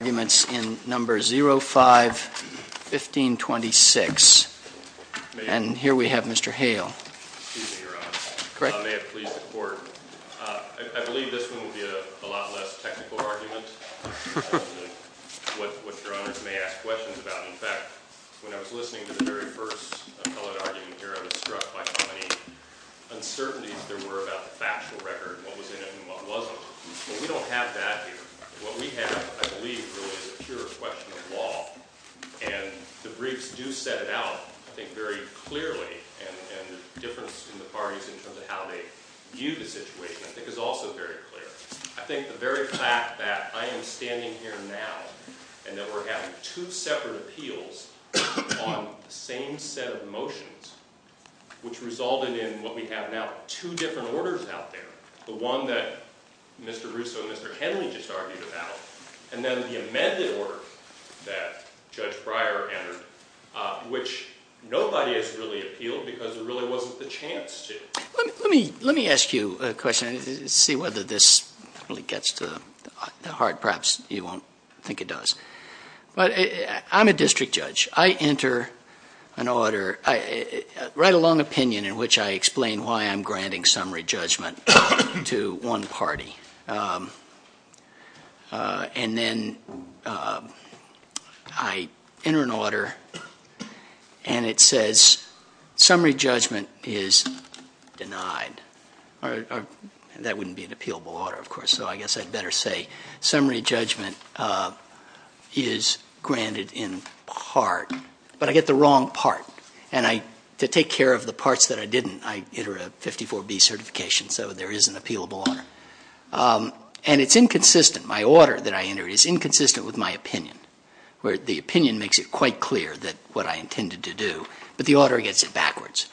Arguments in No. 05-1526. And here we have Mr. Hale. Excuse me, Your Honor. May it please the Court? I believe this one will be a lot less technical argument than what Your Honors may ask questions about. In fact, when I was listening to the very first appellate argument here, I was struck by how many uncertainties there were about the factual record, what was in it and what wasn't. Well, we don't have that here. What we have, I believe, really is a pure question of law. And the briefs do set it out, I think, very clearly, and the difference in the parties in terms of how they view the situation, I think, is also very clear. I think the very fact that I am standing here now and that we're having two separate appeals on the same set of motions, which resulted in what we have now, two different orders out there, the one that Mr. Russo and Mr. Kenley just argued about, and then the amended order that Judge Breyer entered, which nobody has really appealed because there really wasn't the chance to. Let me ask you a question and see whether this really gets to the heart. Perhaps you won't think it does. I'm a district judge. I enter an order, write a long opinion in which I explain why I'm granting summary judgment to one party. And then I enter an order and it says summary judgment is denied. That wouldn't be an appealable order, of course, so I guess I'd better say summary judgment is granted in part, but I get the wrong part. And to take care of the parts that I didn't, I enter a 54B certification, so there is an appealable order. And it's inconsistent, my order that I entered is inconsistent with my opinion, where the opinion makes it quite clear what I intended to do, but the order gets it backwards.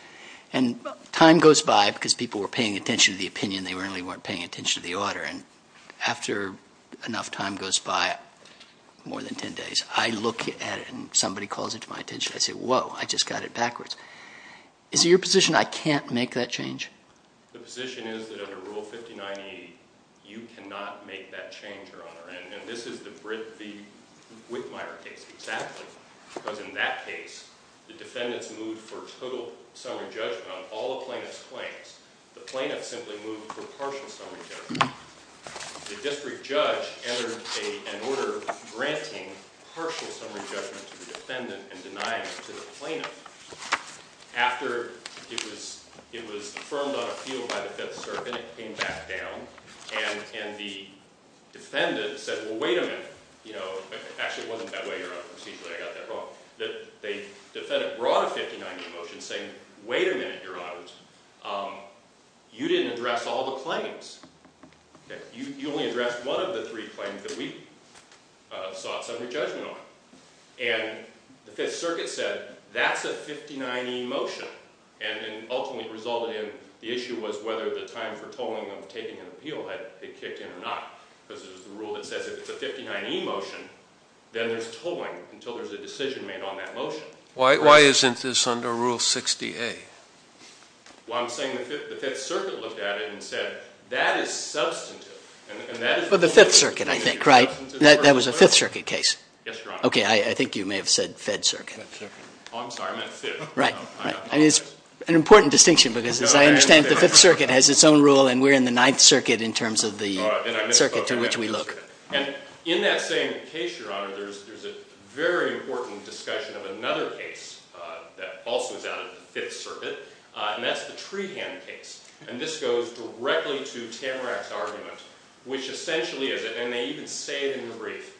And time goes by because people were paying attention to the opinion, they really weren't paying attention to the order. And after enough time goes by, more than ten days, I look at it and somebody calls it to my attention. I say, whoa, I just got it backwards. Is it your position I can't make that change? The position is that under Rule 5090, you cannot make that change, Your Honor. And this is the Whitmire case, exactly. Because in that case, the defendants moved for total summary judgment on all the plaintiff's claims. The plaintiff simply moved for partial summary judgment. The district judge entered an order granting partial summary judgment to the defendant and denying it to the plaintiff. After it was affirmed on appeal by the Fifth Circuit, it came back down, and the defendant said, well, wait a minute. Actually, it wasn't that way, Your Honor, excuse me, I got that wrong. The defendant brought a 5090 motion saying, wait a minute, Your Honor, you didn't address all the claims. You only addressed one of the three claims that we sought summary judgment on. And the Fifth Circuit said, that's a 59E motion. And it ultimately resulted in the issue was whether the time for tolling of taking an appeal had been kicked in or not. Because it was the rule that says if it's a 59E motion, then there's tolling until there's a decision made on that motion. Why isn't this under Rule 60A? Well, I'm saying the Fifth Circuit looked at it and said, that is substantive. But the Fifth Circuit, I think, right? That was a Fifth Circuit case. Yes, Your Honor. OK, I think you may have said Fed Circuit. Oh, I'm sorry, I meant Fifth. Right. I mean, it's an important distinction, because as I understand it, the Fifth Circuit has its own rule, and we're in the Ninth Circuit in terms of the circuit to which we look. And in that same case, Your Honor, there's a very important discussion of another case that also is out of the Fifth Circuit. And that's the Trehan case. And this goes directly to Tamarack's argument, which essentially is, and they even say it in the brief,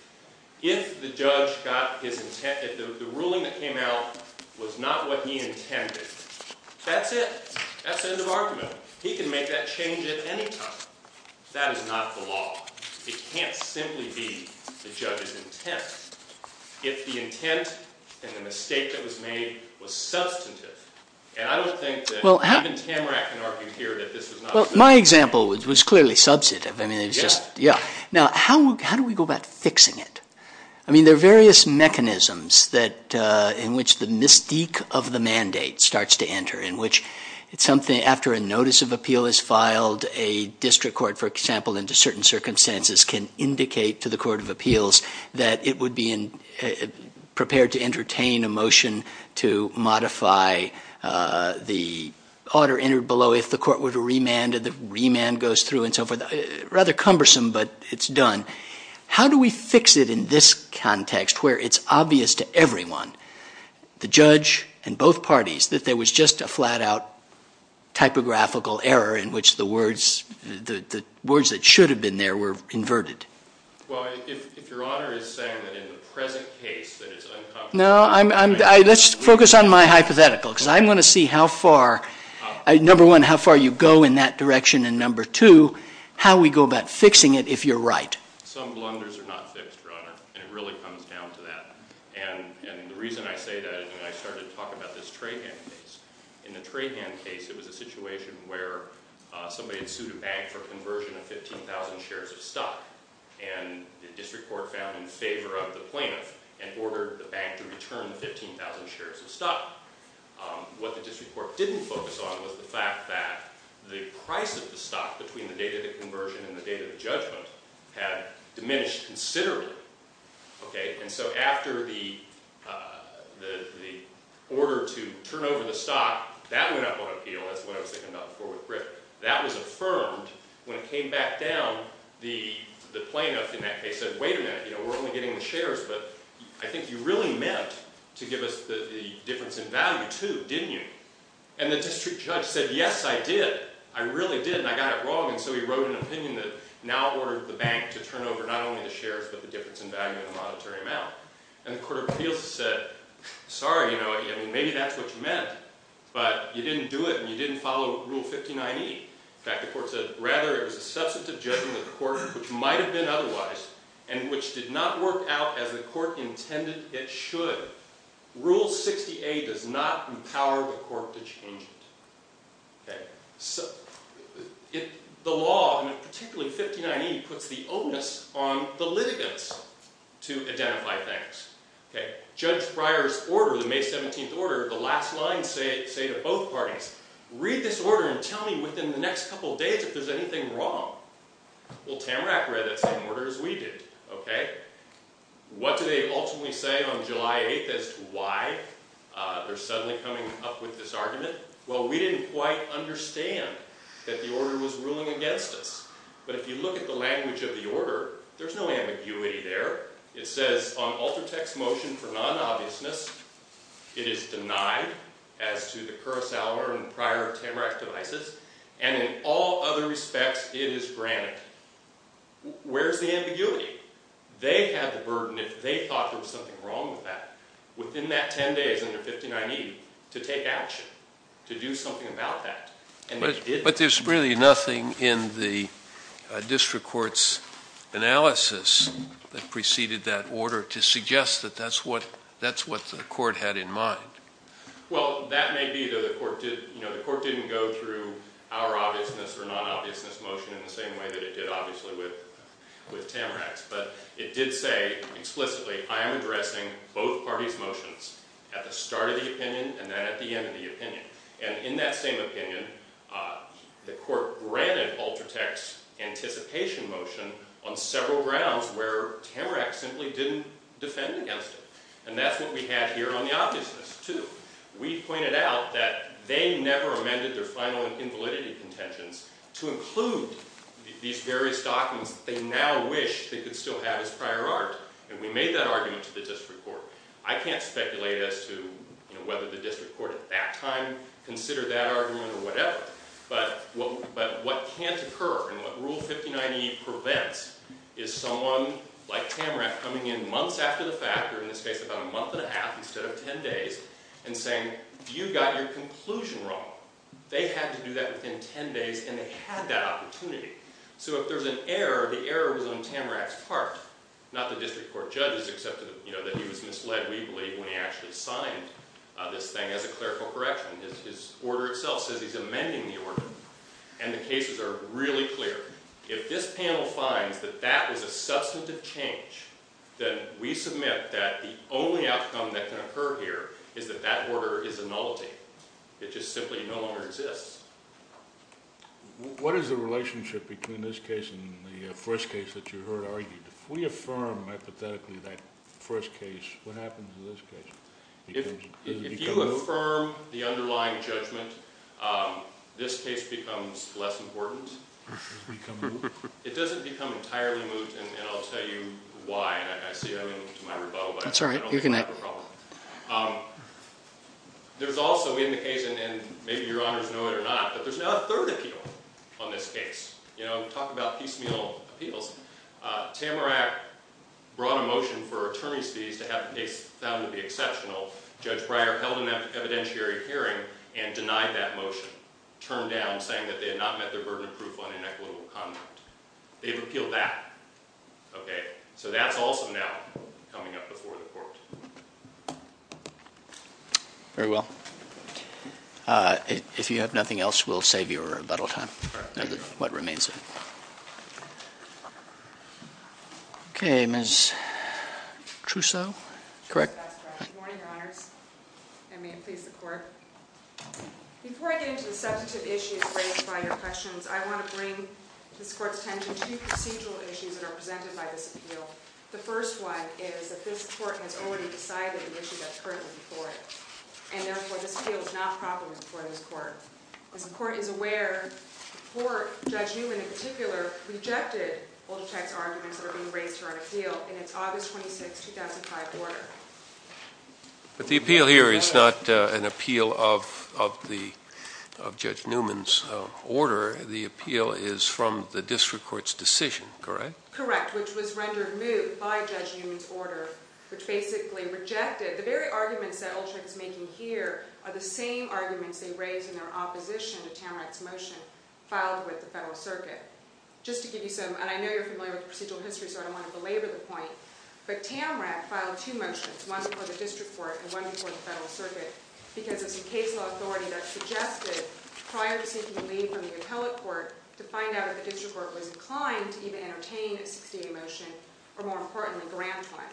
if the judge got his intent, if the ruling that came out was not what he intended, that's it. That's the end of argument. He can make that change at any time. That is not the law. It can't simply be the judge's intent. If the intent and the mistake that was made was substantive, and I don't think that even Tamarack can argue here that this is not substantive. Well, my example was clearly substantive. Yes. Yeah. Now, how do we go about fixing it? I mean, there are various mechanisms in which the mystique of the mandate starts to enter, in which after a notice of appeal is filed, a district court, for example, into certain circumstances can indicate to the court of appeals that it would be prepared to entertain a motion to modify the order entered below if the court were to remand and the remand goes through and so forth. Rather cumbersome, but it's done. How do we fix it in this context where it's obvious to everyone, the judge and both parties, that there was just a flat-out typographical error in which the words that should have been there were inverted? Well, if Your Honor is saying that in the present case that it's uncomfortably clear. No, let's focus on my hypothetical because I'm going to see how far. Number one, how far you go in that direction, and number two, how we go about fixing it if you're right. Some blunders are not fixed, Your Honor, and it really comes down to that. And the reason I say that is when I started to talk about this Trahan case, in the Trahan case it was a situation where somebody had sued a bank for conversion of 15,000 shares of stock, and the district court found in favor of the plaintiff and ordered the bank to return the 15,000 shares of stock. What the district court didn't focus on was the fact that the price of the stock between the date of the conversion and the date of the judgment had diminished considerably. And so after the order to turn over the stock, that went up on appeal. That's what I was thinking about before with Griff. That was affirmed when it came back down, the plaintiff in that case said, wait a minute, we're only getting the shares, but I think you really meant to give us the difference in value, too, didn't you? And the district judge said, yes, I did. I really did, and I got it wrong. And so he wrote an opinion that now ordered the bank to turn over not only the shares but the difference in value in the monetary amount. And the court of appeals said, sorry, maybe that's what you meant, but you didn't do it and you didn't follow Rule 59E. In fact, the court said, rather, it was a substantive judgment of the court, which might have been otherwise, and which did not work out as the court intended it should. Rule 68 does not empower the court to change it. The law, and particularly 59E, puts the onus on the litigants to identify things. Judge Breyer's order, the May 17th order, the last line say to both parties, read this order and tell me within the next couple of days if there's anything wrong. Well, Tamarack read that same order as we did. What do they ultimately say on July 8th as to why they're suddenly coming up with this argument? Well, we didn't quite understand that the order was ruling against us. But if you look at the language of the order, there's no ambiguity there. It says, on Altertech's motion for non-obviousness, it is denied as to the Kurosawa and prior Tamarack devices, and in all other respects, it is granted. Where's the ambiguity? They had the burden, if they thought there was something wrong with that, within that 10 days under 59E to take action, to do something about that, and they didn't. But there's really nothing in the district court's analysis that preceded that order to suggest that that's what the court had in mind. Well, that may be that the court didn't go through our obviousness or non-obviousness motion in the same way that it did, obviously, with Tamarack's. But it did say, explicitly, I am addressing both parties' motions at the start of the opinion and then at the end of the opinion. And in that same opinion, the court granted Altertech's anticipation motion on several grounds where Tamarack simply didn't defend against it. And that's what we had here on the obviousness, too. We pointed out that they never amended their final invalidity contentions to include these various documents that they now wish they could still have as prior art. And we made that argument to the district court. I can't speculate as to whether the district court at that time considered that argument or whatever. But what can't occur and what Rule 5098 prevents is someone like Tamarack coming in months after the fact, or in this case about a month and a half instead of 10 days, and saying, you got your conclusion wrong. They had to do that within 10 days, and they had that opportunity. So if there's an error, the error was on Tamarack's part, not the district court judge's, except that he was misled, we believe, when he actually signed this thing as a clerical correction. His order itself says he's amending the order. And the cases are really clear. If this panel finds that that was a substantive change, then we submit that the only outcome that can occur here is that that order is a nullity. It just simply no longer exists. What is the relationship between this case and the first case that you heard argued? If we affirm hypothetically that first case, what happens in this case? If you affirm the underlying judgment, this case becomes less important. It doesn't become entirely moot, and I'll tell you why. And I see you're going to my rebuttal, but I don't think you have a problem. There's also in the case, and maybe your honors know it or not, but there's now a third appeal on this case. You know, talk about piecemeal appeals. Tamarack brought a motion for attorney's fees to have the case found to be exceptional. Judge Breyer held an evidentiary hearing and denied that motion, turned down, saying that they had not met their burden of proof on inequitable conduct. They've appealed that. Okay. So that's also now coming up before the court. Very well. If you have nothing else, we'll save your rebuttal time for what remains. Okay. Ms. Trousseau. Correct? That's correct. Good morning, your honors, and may it please the court. Before I get into the substantive issues raised by your questions, I want to bring this court's attention to procedural issues that are presented by this appeal. The first one is that this court has already decided the issue that's currently before it, and therefore this appeal is not properly before this court. As the court is aware, the court, Judge Newman in particular, rejected Olcotec's arguments that are being raised here on appeal in its August 26, 2005 order. But the appeal here is not an appeal of Judge Newman's order. The appeal is from the district court's decision, correct? Correct, which was rendered moot by Judge Newman's order, which basically rejected the very arguments that Olcotec is making here are the same arguments they raised in their opposition to Tamarack's motion filed with the Federal Circuit. Just to give you some—and I know you're familiar with the procedural history, so I don't want to belabor the point—but Tamarack filed two motions, one before the district court and one before the Federal Circuit, because there's a case law authority that suggested, prior to seeking a leave from the appellate court, to find out if the district court was inclined to even entertain a 68 motion or, more importantly, grant one.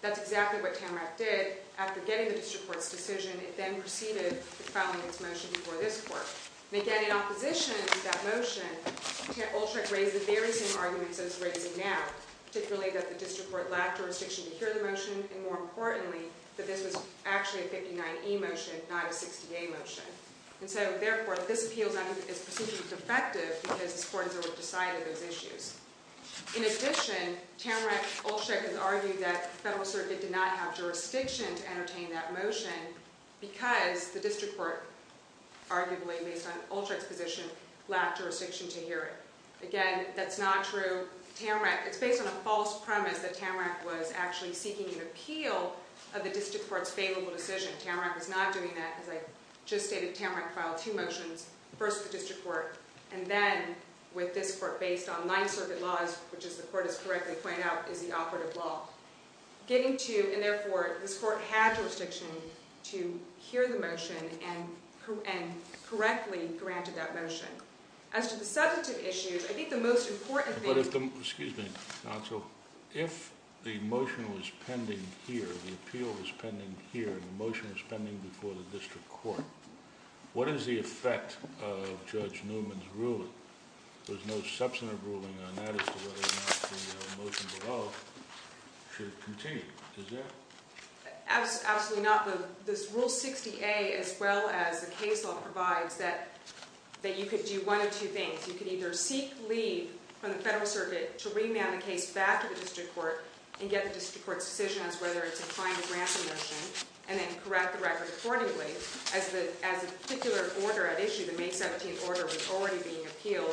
That's exactly what Tamarack did. After getting the district court's decision, it then proceeded with filing its motion before this court. And, again, in opposition to that motion, Olcotec raised the very same arguments that it's raising now, particularly that the district court lacked jurisdiction to hear the motion, and, more importantly, that this was actually a 59E motion, not a 68 motion. And so, therefore, this appeal is procedurally defective because this court has already decided those issues. In addition, Tamarack and Olcotec have argued that the Federal Circuit did not have jurisdiction to entertain that motion because the district court, arguably based on Olcotec's position, lacked jurisdiction to hear it. Again, that's not true. Tamarack—it's based on a false premise that Tamarack was actually seeking an appeal of the district court's favorable decision. Tamarack was not doing that, as I just stated. Tamarack filed two motions, first the district court, and then, with this court based on Ninth Circuit laws, which, as the court has correctly pointed out, is the operative law. Getting to—and, therefore, this court had jurisdiction to hear the motion and correctly granted that motion. As to the substantive issues, I think the most important thing— Excuse me, counsel. If the motion was pending here, the appeal was pending here, and the motion was pending before the district court, what is the effect of Judge Newman's ruling? There's no substantive ruling on that as to whether or not the motion below should continue, is there? Absolutely not. Rule 60A, as well as the case law, provides that you could do one of two things. You could either seek leave from the federal circuit to remand the case back to the district court and get the district court's decision as to whether it's inclined to grant the motion, and then correct the record accordingly, as the particular order at issue, the May 17th order, was already being appealed.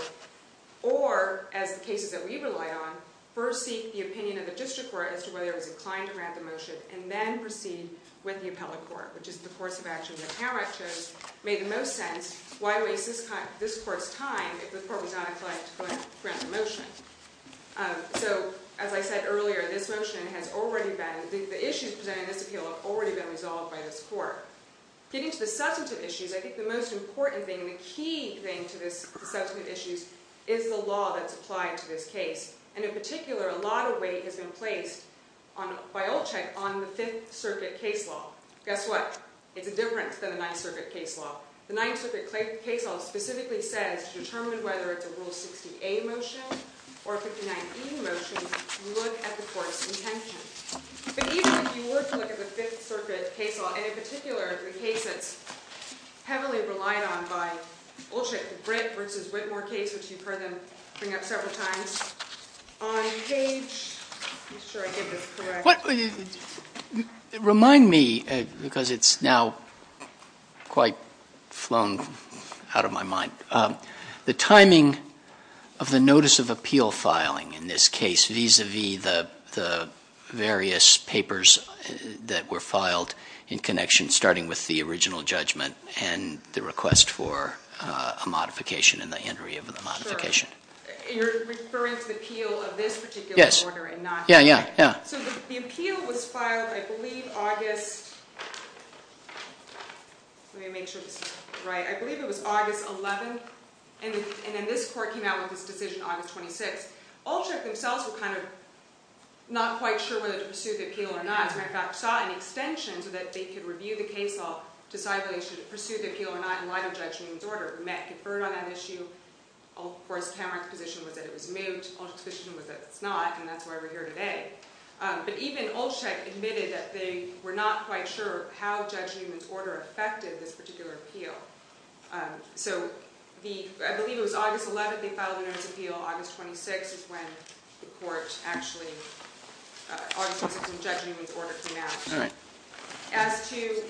Or, as the cases that we relied on, first seek the opinion of the district court as to whether it was inclined to grant the motion, and then proceed with the appellate court, which is the course of action the appellate chose made the most sense. Why waste this court's time if the court was not inclined to grant the motion? So, as I said earlier, this motion has already been—the issues presenting this appeal have already been resolved by this court. Getting to the substantive issues, I think the most important thing and the key thing to the substantive issues is the law that's applied to this case. And in particular, a lot of weight has been placed by Olchek on the Fifth Circuit case law. Guess what? It's different than the Ninth Circuit case law. The Ninth Circuit case law specifically says to determine whether it's a Rule 60A motion or a 59E motion, look at the court's intention. But even if you were to look at the Fifth Circuit case law, and in particular, the case that's heavily relied on by Olchek, the Britt v. Whitmore case, which you've heard them bring up several times on page—I'm not sure I did this correctly. Remind me, because it's now quite flown out of my mind, the timing of the notice of appeal filing in this case vis-a-vis the various papers that were filed in connection, starting with the original judgment and the request for a modification and the entry of the modification. Sure. You're referring to the appeal of this particular order and not— Yes. Yeah, yeah, yeah. So the appeal was filed, I believe, August—let me make sure this is right. I believe it was August 11, and then this court came out with this decision August 26. Olchek themselves were kind of not quite sure whether to pursue the appeal or not. In fact, sought an extension so that they could review the case law to decide whether they should pursue the appeal or not in light of Judge Newman's order. We met and conferred on that issue. Of course, Cameron's position was that it was moot. Olchek's position was that it's not, and that's why we're here today. But even Olchek admitted that they were not quite sure how Judge Newman's order affected this particular appeal. So I believe it was August 11 they filed a notice of appeal. August 26 is when the court actually—August 26 is when Judge Newman's order came out. All right. As to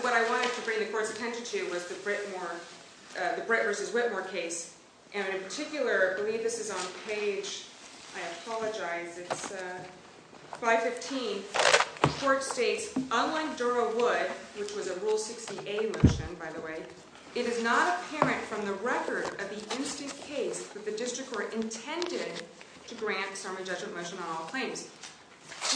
what I wanted to bring the court's attention to was the Brittmore—the Britt v. Whitmore case. And in particular, I believe this is on page—I apologize, it's 515. The court states, unlike Dura Wood, which was a Rule 60A motion, by the way, it is not apparent from the record of the instance case that the district court intended to grant a summary judgment motion on all claims.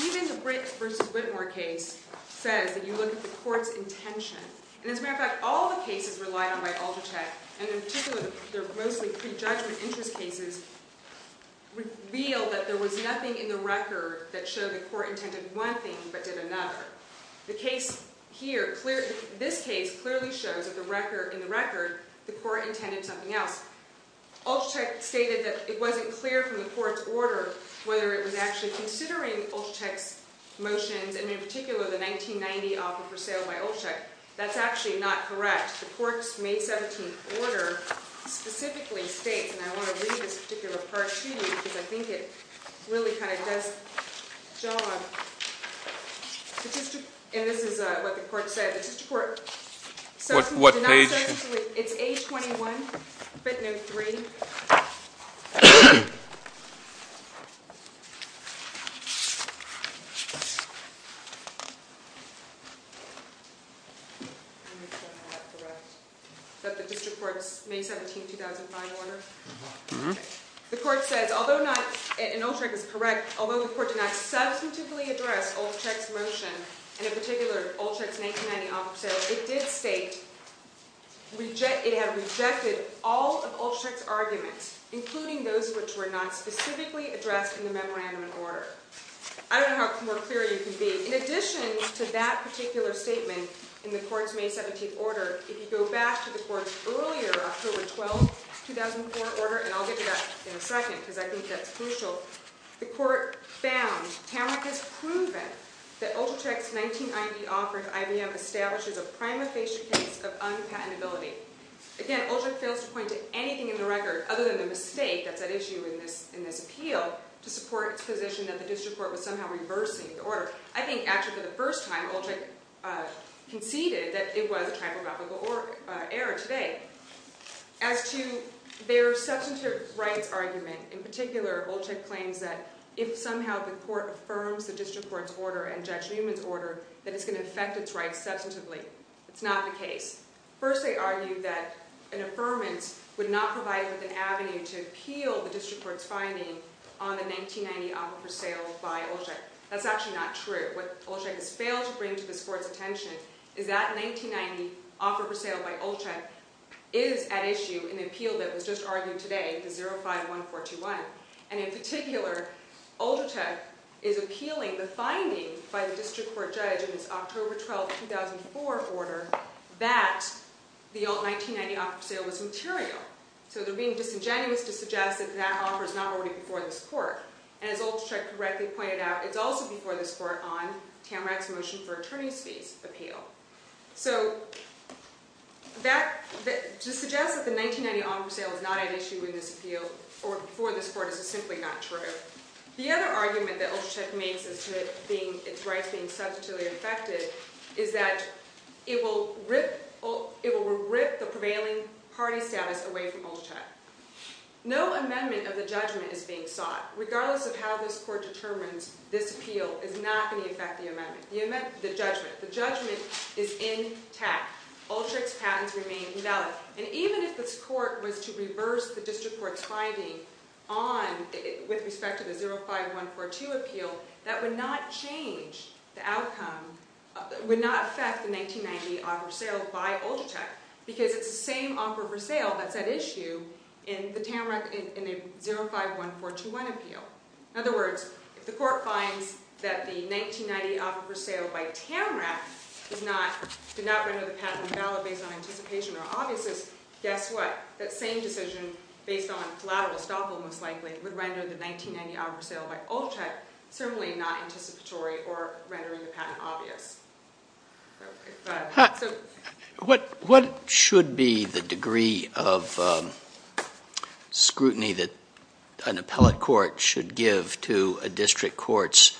Even the Britt v. Whitmore case says that you look at the court's intention. And as a matter of fact, all the cases relied on by Olchek, and in particular their mostly prejudgment interest cases, reveal that there was nothing in the record that showed the court intended one thing but did another. The case here—this case clearly shows in the record the court intended something else. Olchek stated that it wasn't clear from the court's order whether it was actually considering Olchek's motions, and in particular the 1990 offer for sale by Olchek. That's actually not correct. The court's May 17th order specifically states—and I want to read this particular part to you because I think it really kind of does jog— and this is what the court said. The district court— What page? It's page 21, bit note 3. Is that the district court's May 17, 2005 order? Mm-hmm. The court says, although not—and Olchek is correct—although the court did not substantively address Olchek's motion, and in particular Olchek's 1990 offer for sale, it did state it had rejected all of Olchek's arguments, including those which were not specifically addressed in the memorandum and order. I don't know how more clear you can be. In addition to that particular statement in the court's May 17th order, if you go back to the court's earlier October 12, 2004 order—and I'll get to that in a second because I think that's crucial— the court found Tamark has proven that Olchek's 1990 offer at IBM establishes a prima facie case of unpatentability. Again, Olchek fails to point to anything in the record other than the mistake that's at issue in this appeal to support its position that the district court was somehow reversing the order. I think actually for the first time Olchek conceded that it was a typographical error today. As to their substantive rights argument, in particular Olchek claims that if somehow the court affirms the district court's order and Judge Newman's order, that it's going to affect its rights substantively. That's not the case. First they argue that an affirmance would not provide an avenue to appeal the district court's finding on the 1990 offer for sale by Olchek. That's actually not true. What Olchek has failed to bring to this court's attention is that 1990 offer for sale by Olchek is at issue in the appeal that was just argued today, the 05-1421. And in particular, Olchek is appealing the finding by the district court judge in this October 12, 2004 order that the old 1990 offer for sale was material. So they're being disingenuous to suggest that that offer is not already before this court. And as Olchek correctly pointed out, it's also before this court on Tamarack's motion for attorney's fees appeal. So to suggest that the 1990 offer for sale is not at issue in this appeal or before this court is simply not true. The other argument that Olchek makes as to its rights being substantively affected is that it will rip the prevailing party status away from Olchek. No amendment of the judgment is being sought. Regardless of how this court determines this appeal is not going to affect the amendment, the judgment. The judgment is intact. Olchek's patents remain valid. And even if this court was to reverse the district court's finding with respect to the 05-142 appeal, that would not change the outcome, would not affect the 1990 offer for sale by Olchek because it's the same offer for sale that's at issue in the Tamarack 05-142 appeal. In other words, if the court finds that the 1990 offer for sale by Tamarack did not render the patent valid based on anticipation or obviousness, guess what? That same decision based on collateral estoppel most likely would render the 1990 offer for sale by Olchek certainly not anticipatory or rendering the patent obvious. What should be the degree of scrutiny that an appellate court should give to a district court's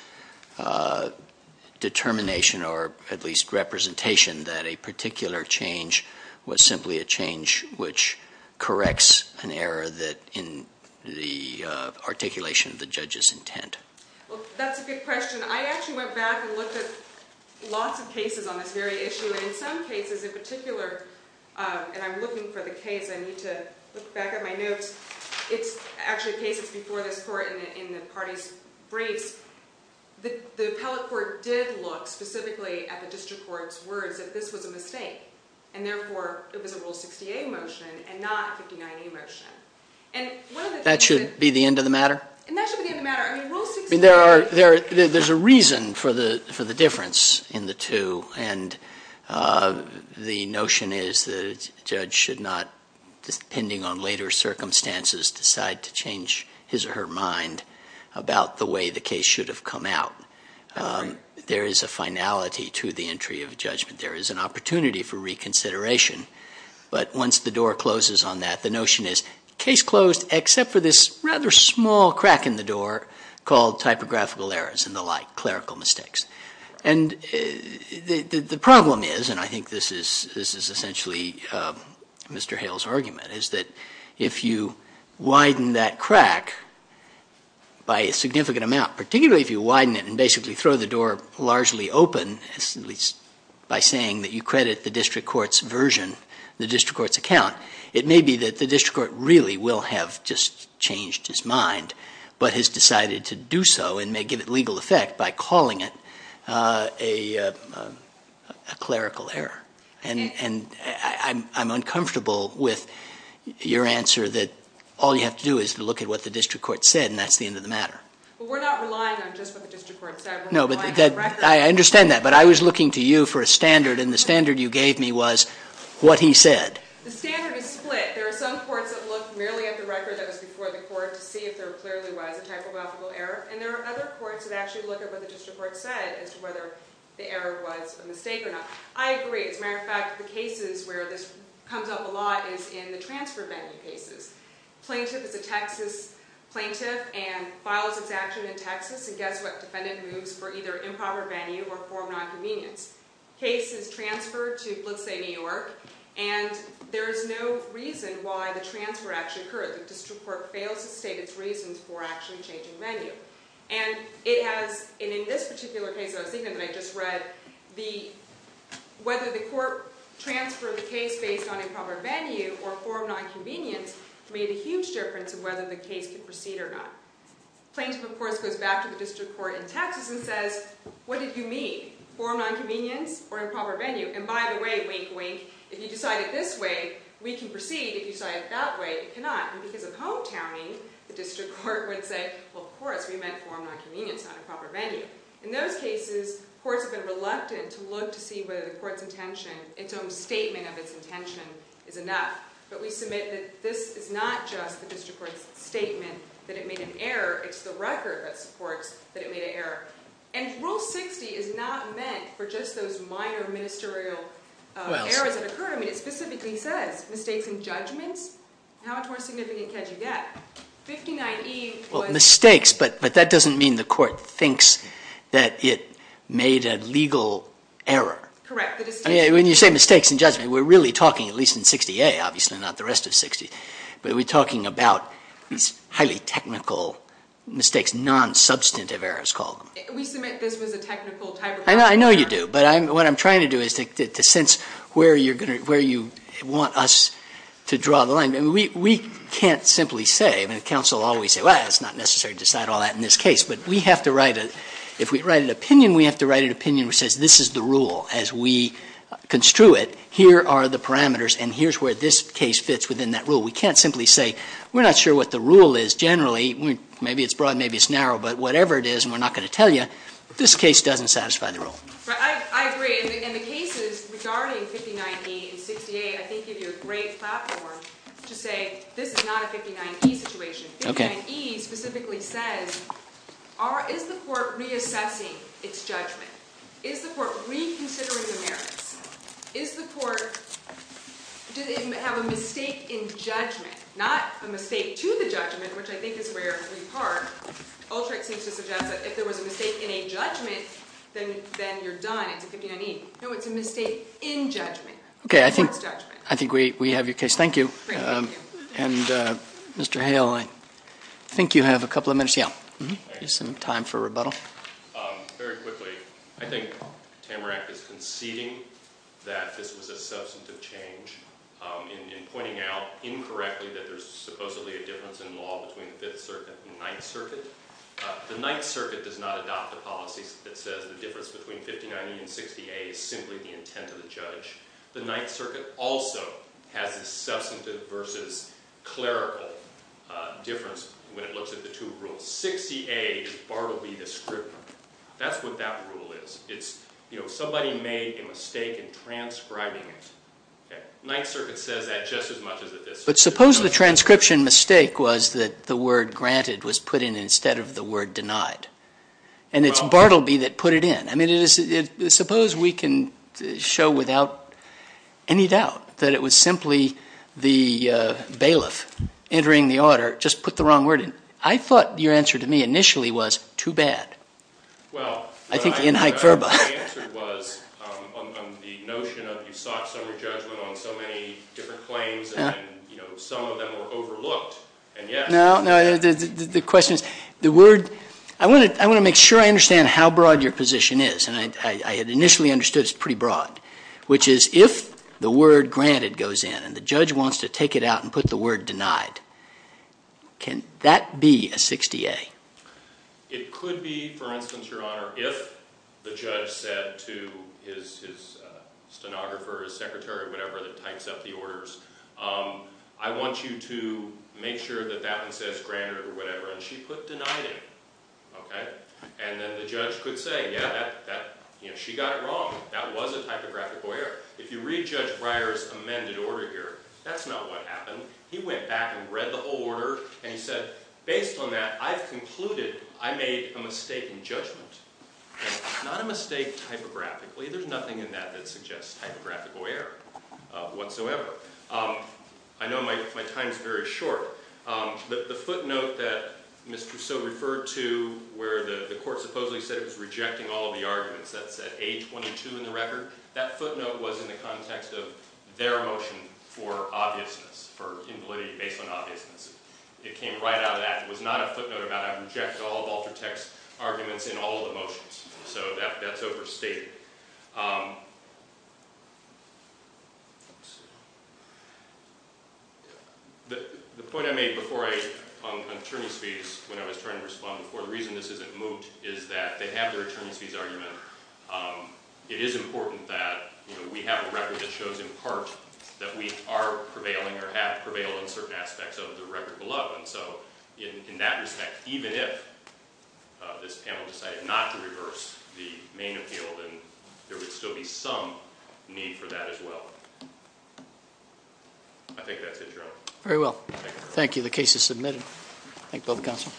determination or at least representation that a particular change was simply a change which corrects an error in the articulation of the judge's intent? That's a good question. I actually went back and looked at lots of cases on this very issue. In some cases in particular, and I'm looking for the case. I need to look back at my notes. It's actually a case that's before this court in the party's briefs. The appellate court did look specifically at the district court's words that this was a mistake. And therefore, it was a Rule 60A motion and not a 59A motion. That should be the end of the matter? That should be the end of the matter. There's a reason for the difference in the two. And the notion is that a judge should not, depending on later circumstances, decide to change his or her mind about the way the case should have come out. There is a finality to the entry of judgment. There is an opportunity for reconsideration. But once the door closes on that, the notion is case closed, except for this rather small crack in the door called typographical errors and the like, clerical mistakes. And the problem is, and I think this is essentially Mr. Hale's argument, is that if you widen that crack by a significant amount, particularly if you widen it and basically throw the door largely open, at least by saying that you credit the district court's version, the district court's account, it may be that the district court really will have just changed his mind, but has decided to do so and may give it legal effect by calling it a clerical error. And I'm uncomfortable with your answer that all you have to do is look at what the district court said, and that's the end of the matter. But we're not relying on just what the district court said. I understand that, but I was looking to you for a standard, and the standard you gave me was what he said. The standard is split. There are some courts that look merely at the record that was before the court to see if there clearly was a typographical error, and there are other courts that actually look at what the district court said as to whether the error was a mistake or not. I agree. As a matter of fact, the cases where this comes up a lot is in the transfer venue cases. Plaintiff is a Texas plaintiff and files its action in Texas, and guess what? Defendant moves for either improper venue or form of nonconvenience. Case is transferred to, let's say, New York, and there is no reason why the transfer actually occurred. The district court fails to state its reasons for actually changing venue. And it has, in this particular case that I was thinking of that I just read, whether the court transferred the case based on improper venue or form of nonconvenience made a huge difference in whether the case could proceed or not. Plaintiff, of course, goes back to the district court in Texas and says, what did you mean? Form of nonconvenience or improper venue? And by the way, wink, wink, if you decide it this way, we can proceed. If you decide it that way, you cannot. And because of hometowning, the district court would say, well, of course, we meant form of nonconvenience, not improper venue. In those cases, courts have been reluctant to look to see whether the court's intention, its own statement of its intention, is enough. But we submit that this is not just the district court's statement that it made an error. It's the record that supports that it made an error. And Rule 60 is not meant for just those minor ministerial errors that occur. I mean, it specifically says mistakes and judgments. How much more significant can you get? 59E was ---- Well, mistakes, but that doesn't mean the court thinks that it made a legal error. Correct. When you say mistakes and judgments, we're really talking, at least in 60A, obviously not the rest of 60, but we're talking about these highly technical mistakes, non-substantive errors called. We submit this was a technical type of error. I know you do. But what I'm trying to do is to sense where you want us to draw the line. I mean, we can't simply say. I mean, counsel always say, well, it's not necessary to decide all that in this case. But we have to write a ---- if we write an opinion, we have to write an opinion which says this is the rule as we construe it. Here are the parameters, and here's where this case fits within that rule. We can't simply say we're not sure what the rule is generally. Maybe it's broad. Maybe it's narrow. But whatever it is, and we're not going to tell you, this case doesn't satisfy the rule. I agree. And the cases regarding 59E and 60A, I think, give you a great platform to say this is not a 59E situation. Okay. 59E specifically says, is the court reassessing its judgment? Is the court reconsidering the merits? Is the court ---- did it have a mistake in judgment? Not a mistake to the judgment, which I think is where we part. ULTRIC seems to suggest that if there was a mistake in a judgment, then you're done. It's a 59E. No, it's a mistake in judgment. Okay. I think we have your case. Thank you. Great. Thank you. And, Mr. Hale, I think you have a couple of minutes. Yeah. You have some time for rebuttal. Very quickly, I think Tamarack is conceding that this was a substantive change in pointing out, incorrectly, that there's supposedly a difference in law between the Fifth Circuit and the Ninth Circuit. The Ninth Circuit does not adopt a policy that says the difference between 59E and 60A is simply the intent of the judge. The Ninth Circuit also has a substantive versus clerical difference when it looks at the two rules. 60A is Bartleby the scrivener. That's what that rule is. It's, you know, somebody made a mistake in transcribing it. The Ninth Circuit says that just as much as the Fifth Circuit does. But suppose the transcription mistake was that the word granted was put in instead of the word denied. And it's Bartleby that put it in. I mean, suppose we can show without any doubt that it was simply the bailiff entering the order, just put the wrong word in. I thought your answer to me initially was too bad. I think in hyperbole. Well, my answer was on the notion of you sought some re-judgment on so many different claims and, you know, some of them were overlooked. No, no, the question is the word. I want to make sure I understand how broad your position is, and I had initially understood it was pretty broad, which is if the word granted goes in and the judge wants to take it out and put the word denied, can that be a 60-A? It could be, for instance, Your Honor, if the judge said to his stenographer or his secretary or whatever that types up the orders, I want you to make sure that that one says granted or whatever, and she put denied in. Okay? And then the judge could say, yeah, she got it wrong. That was a typographical error. If you read Judge Breyer's amended order here, that's not what happened. He went back and read the whole order, and he said, based on that, I've concluded I made a mistake in judgment. It's not a mistake typographically. There's nothing in that that suggests typographical error whatsoever. I know my time is very short, but the footnote that Mr. So referred to where the court supposedly said it was rejecting all of the arguments, that's at A22 in the record, that footnote was in the context of their motion for obviousness, for invalidating based on obviousness. It came right out of that. It was not a footnote about I've rejected all of Walter Tech's arguments in all of the motions. So that's overstated. The point I made before on attorney's fees when I was trying to respond before, is that they have their attorney's fees argument. It is important that we have a record that shows in part that we are prevailing or have prevailed in certain aspects of the record below. And so in that respect, even if this panel decided not to reverse the main appeal, then there would still be some need for that as well. I think that's it, Your Honor. Very well. Thank you. The case is submitted. Thank you both counsel.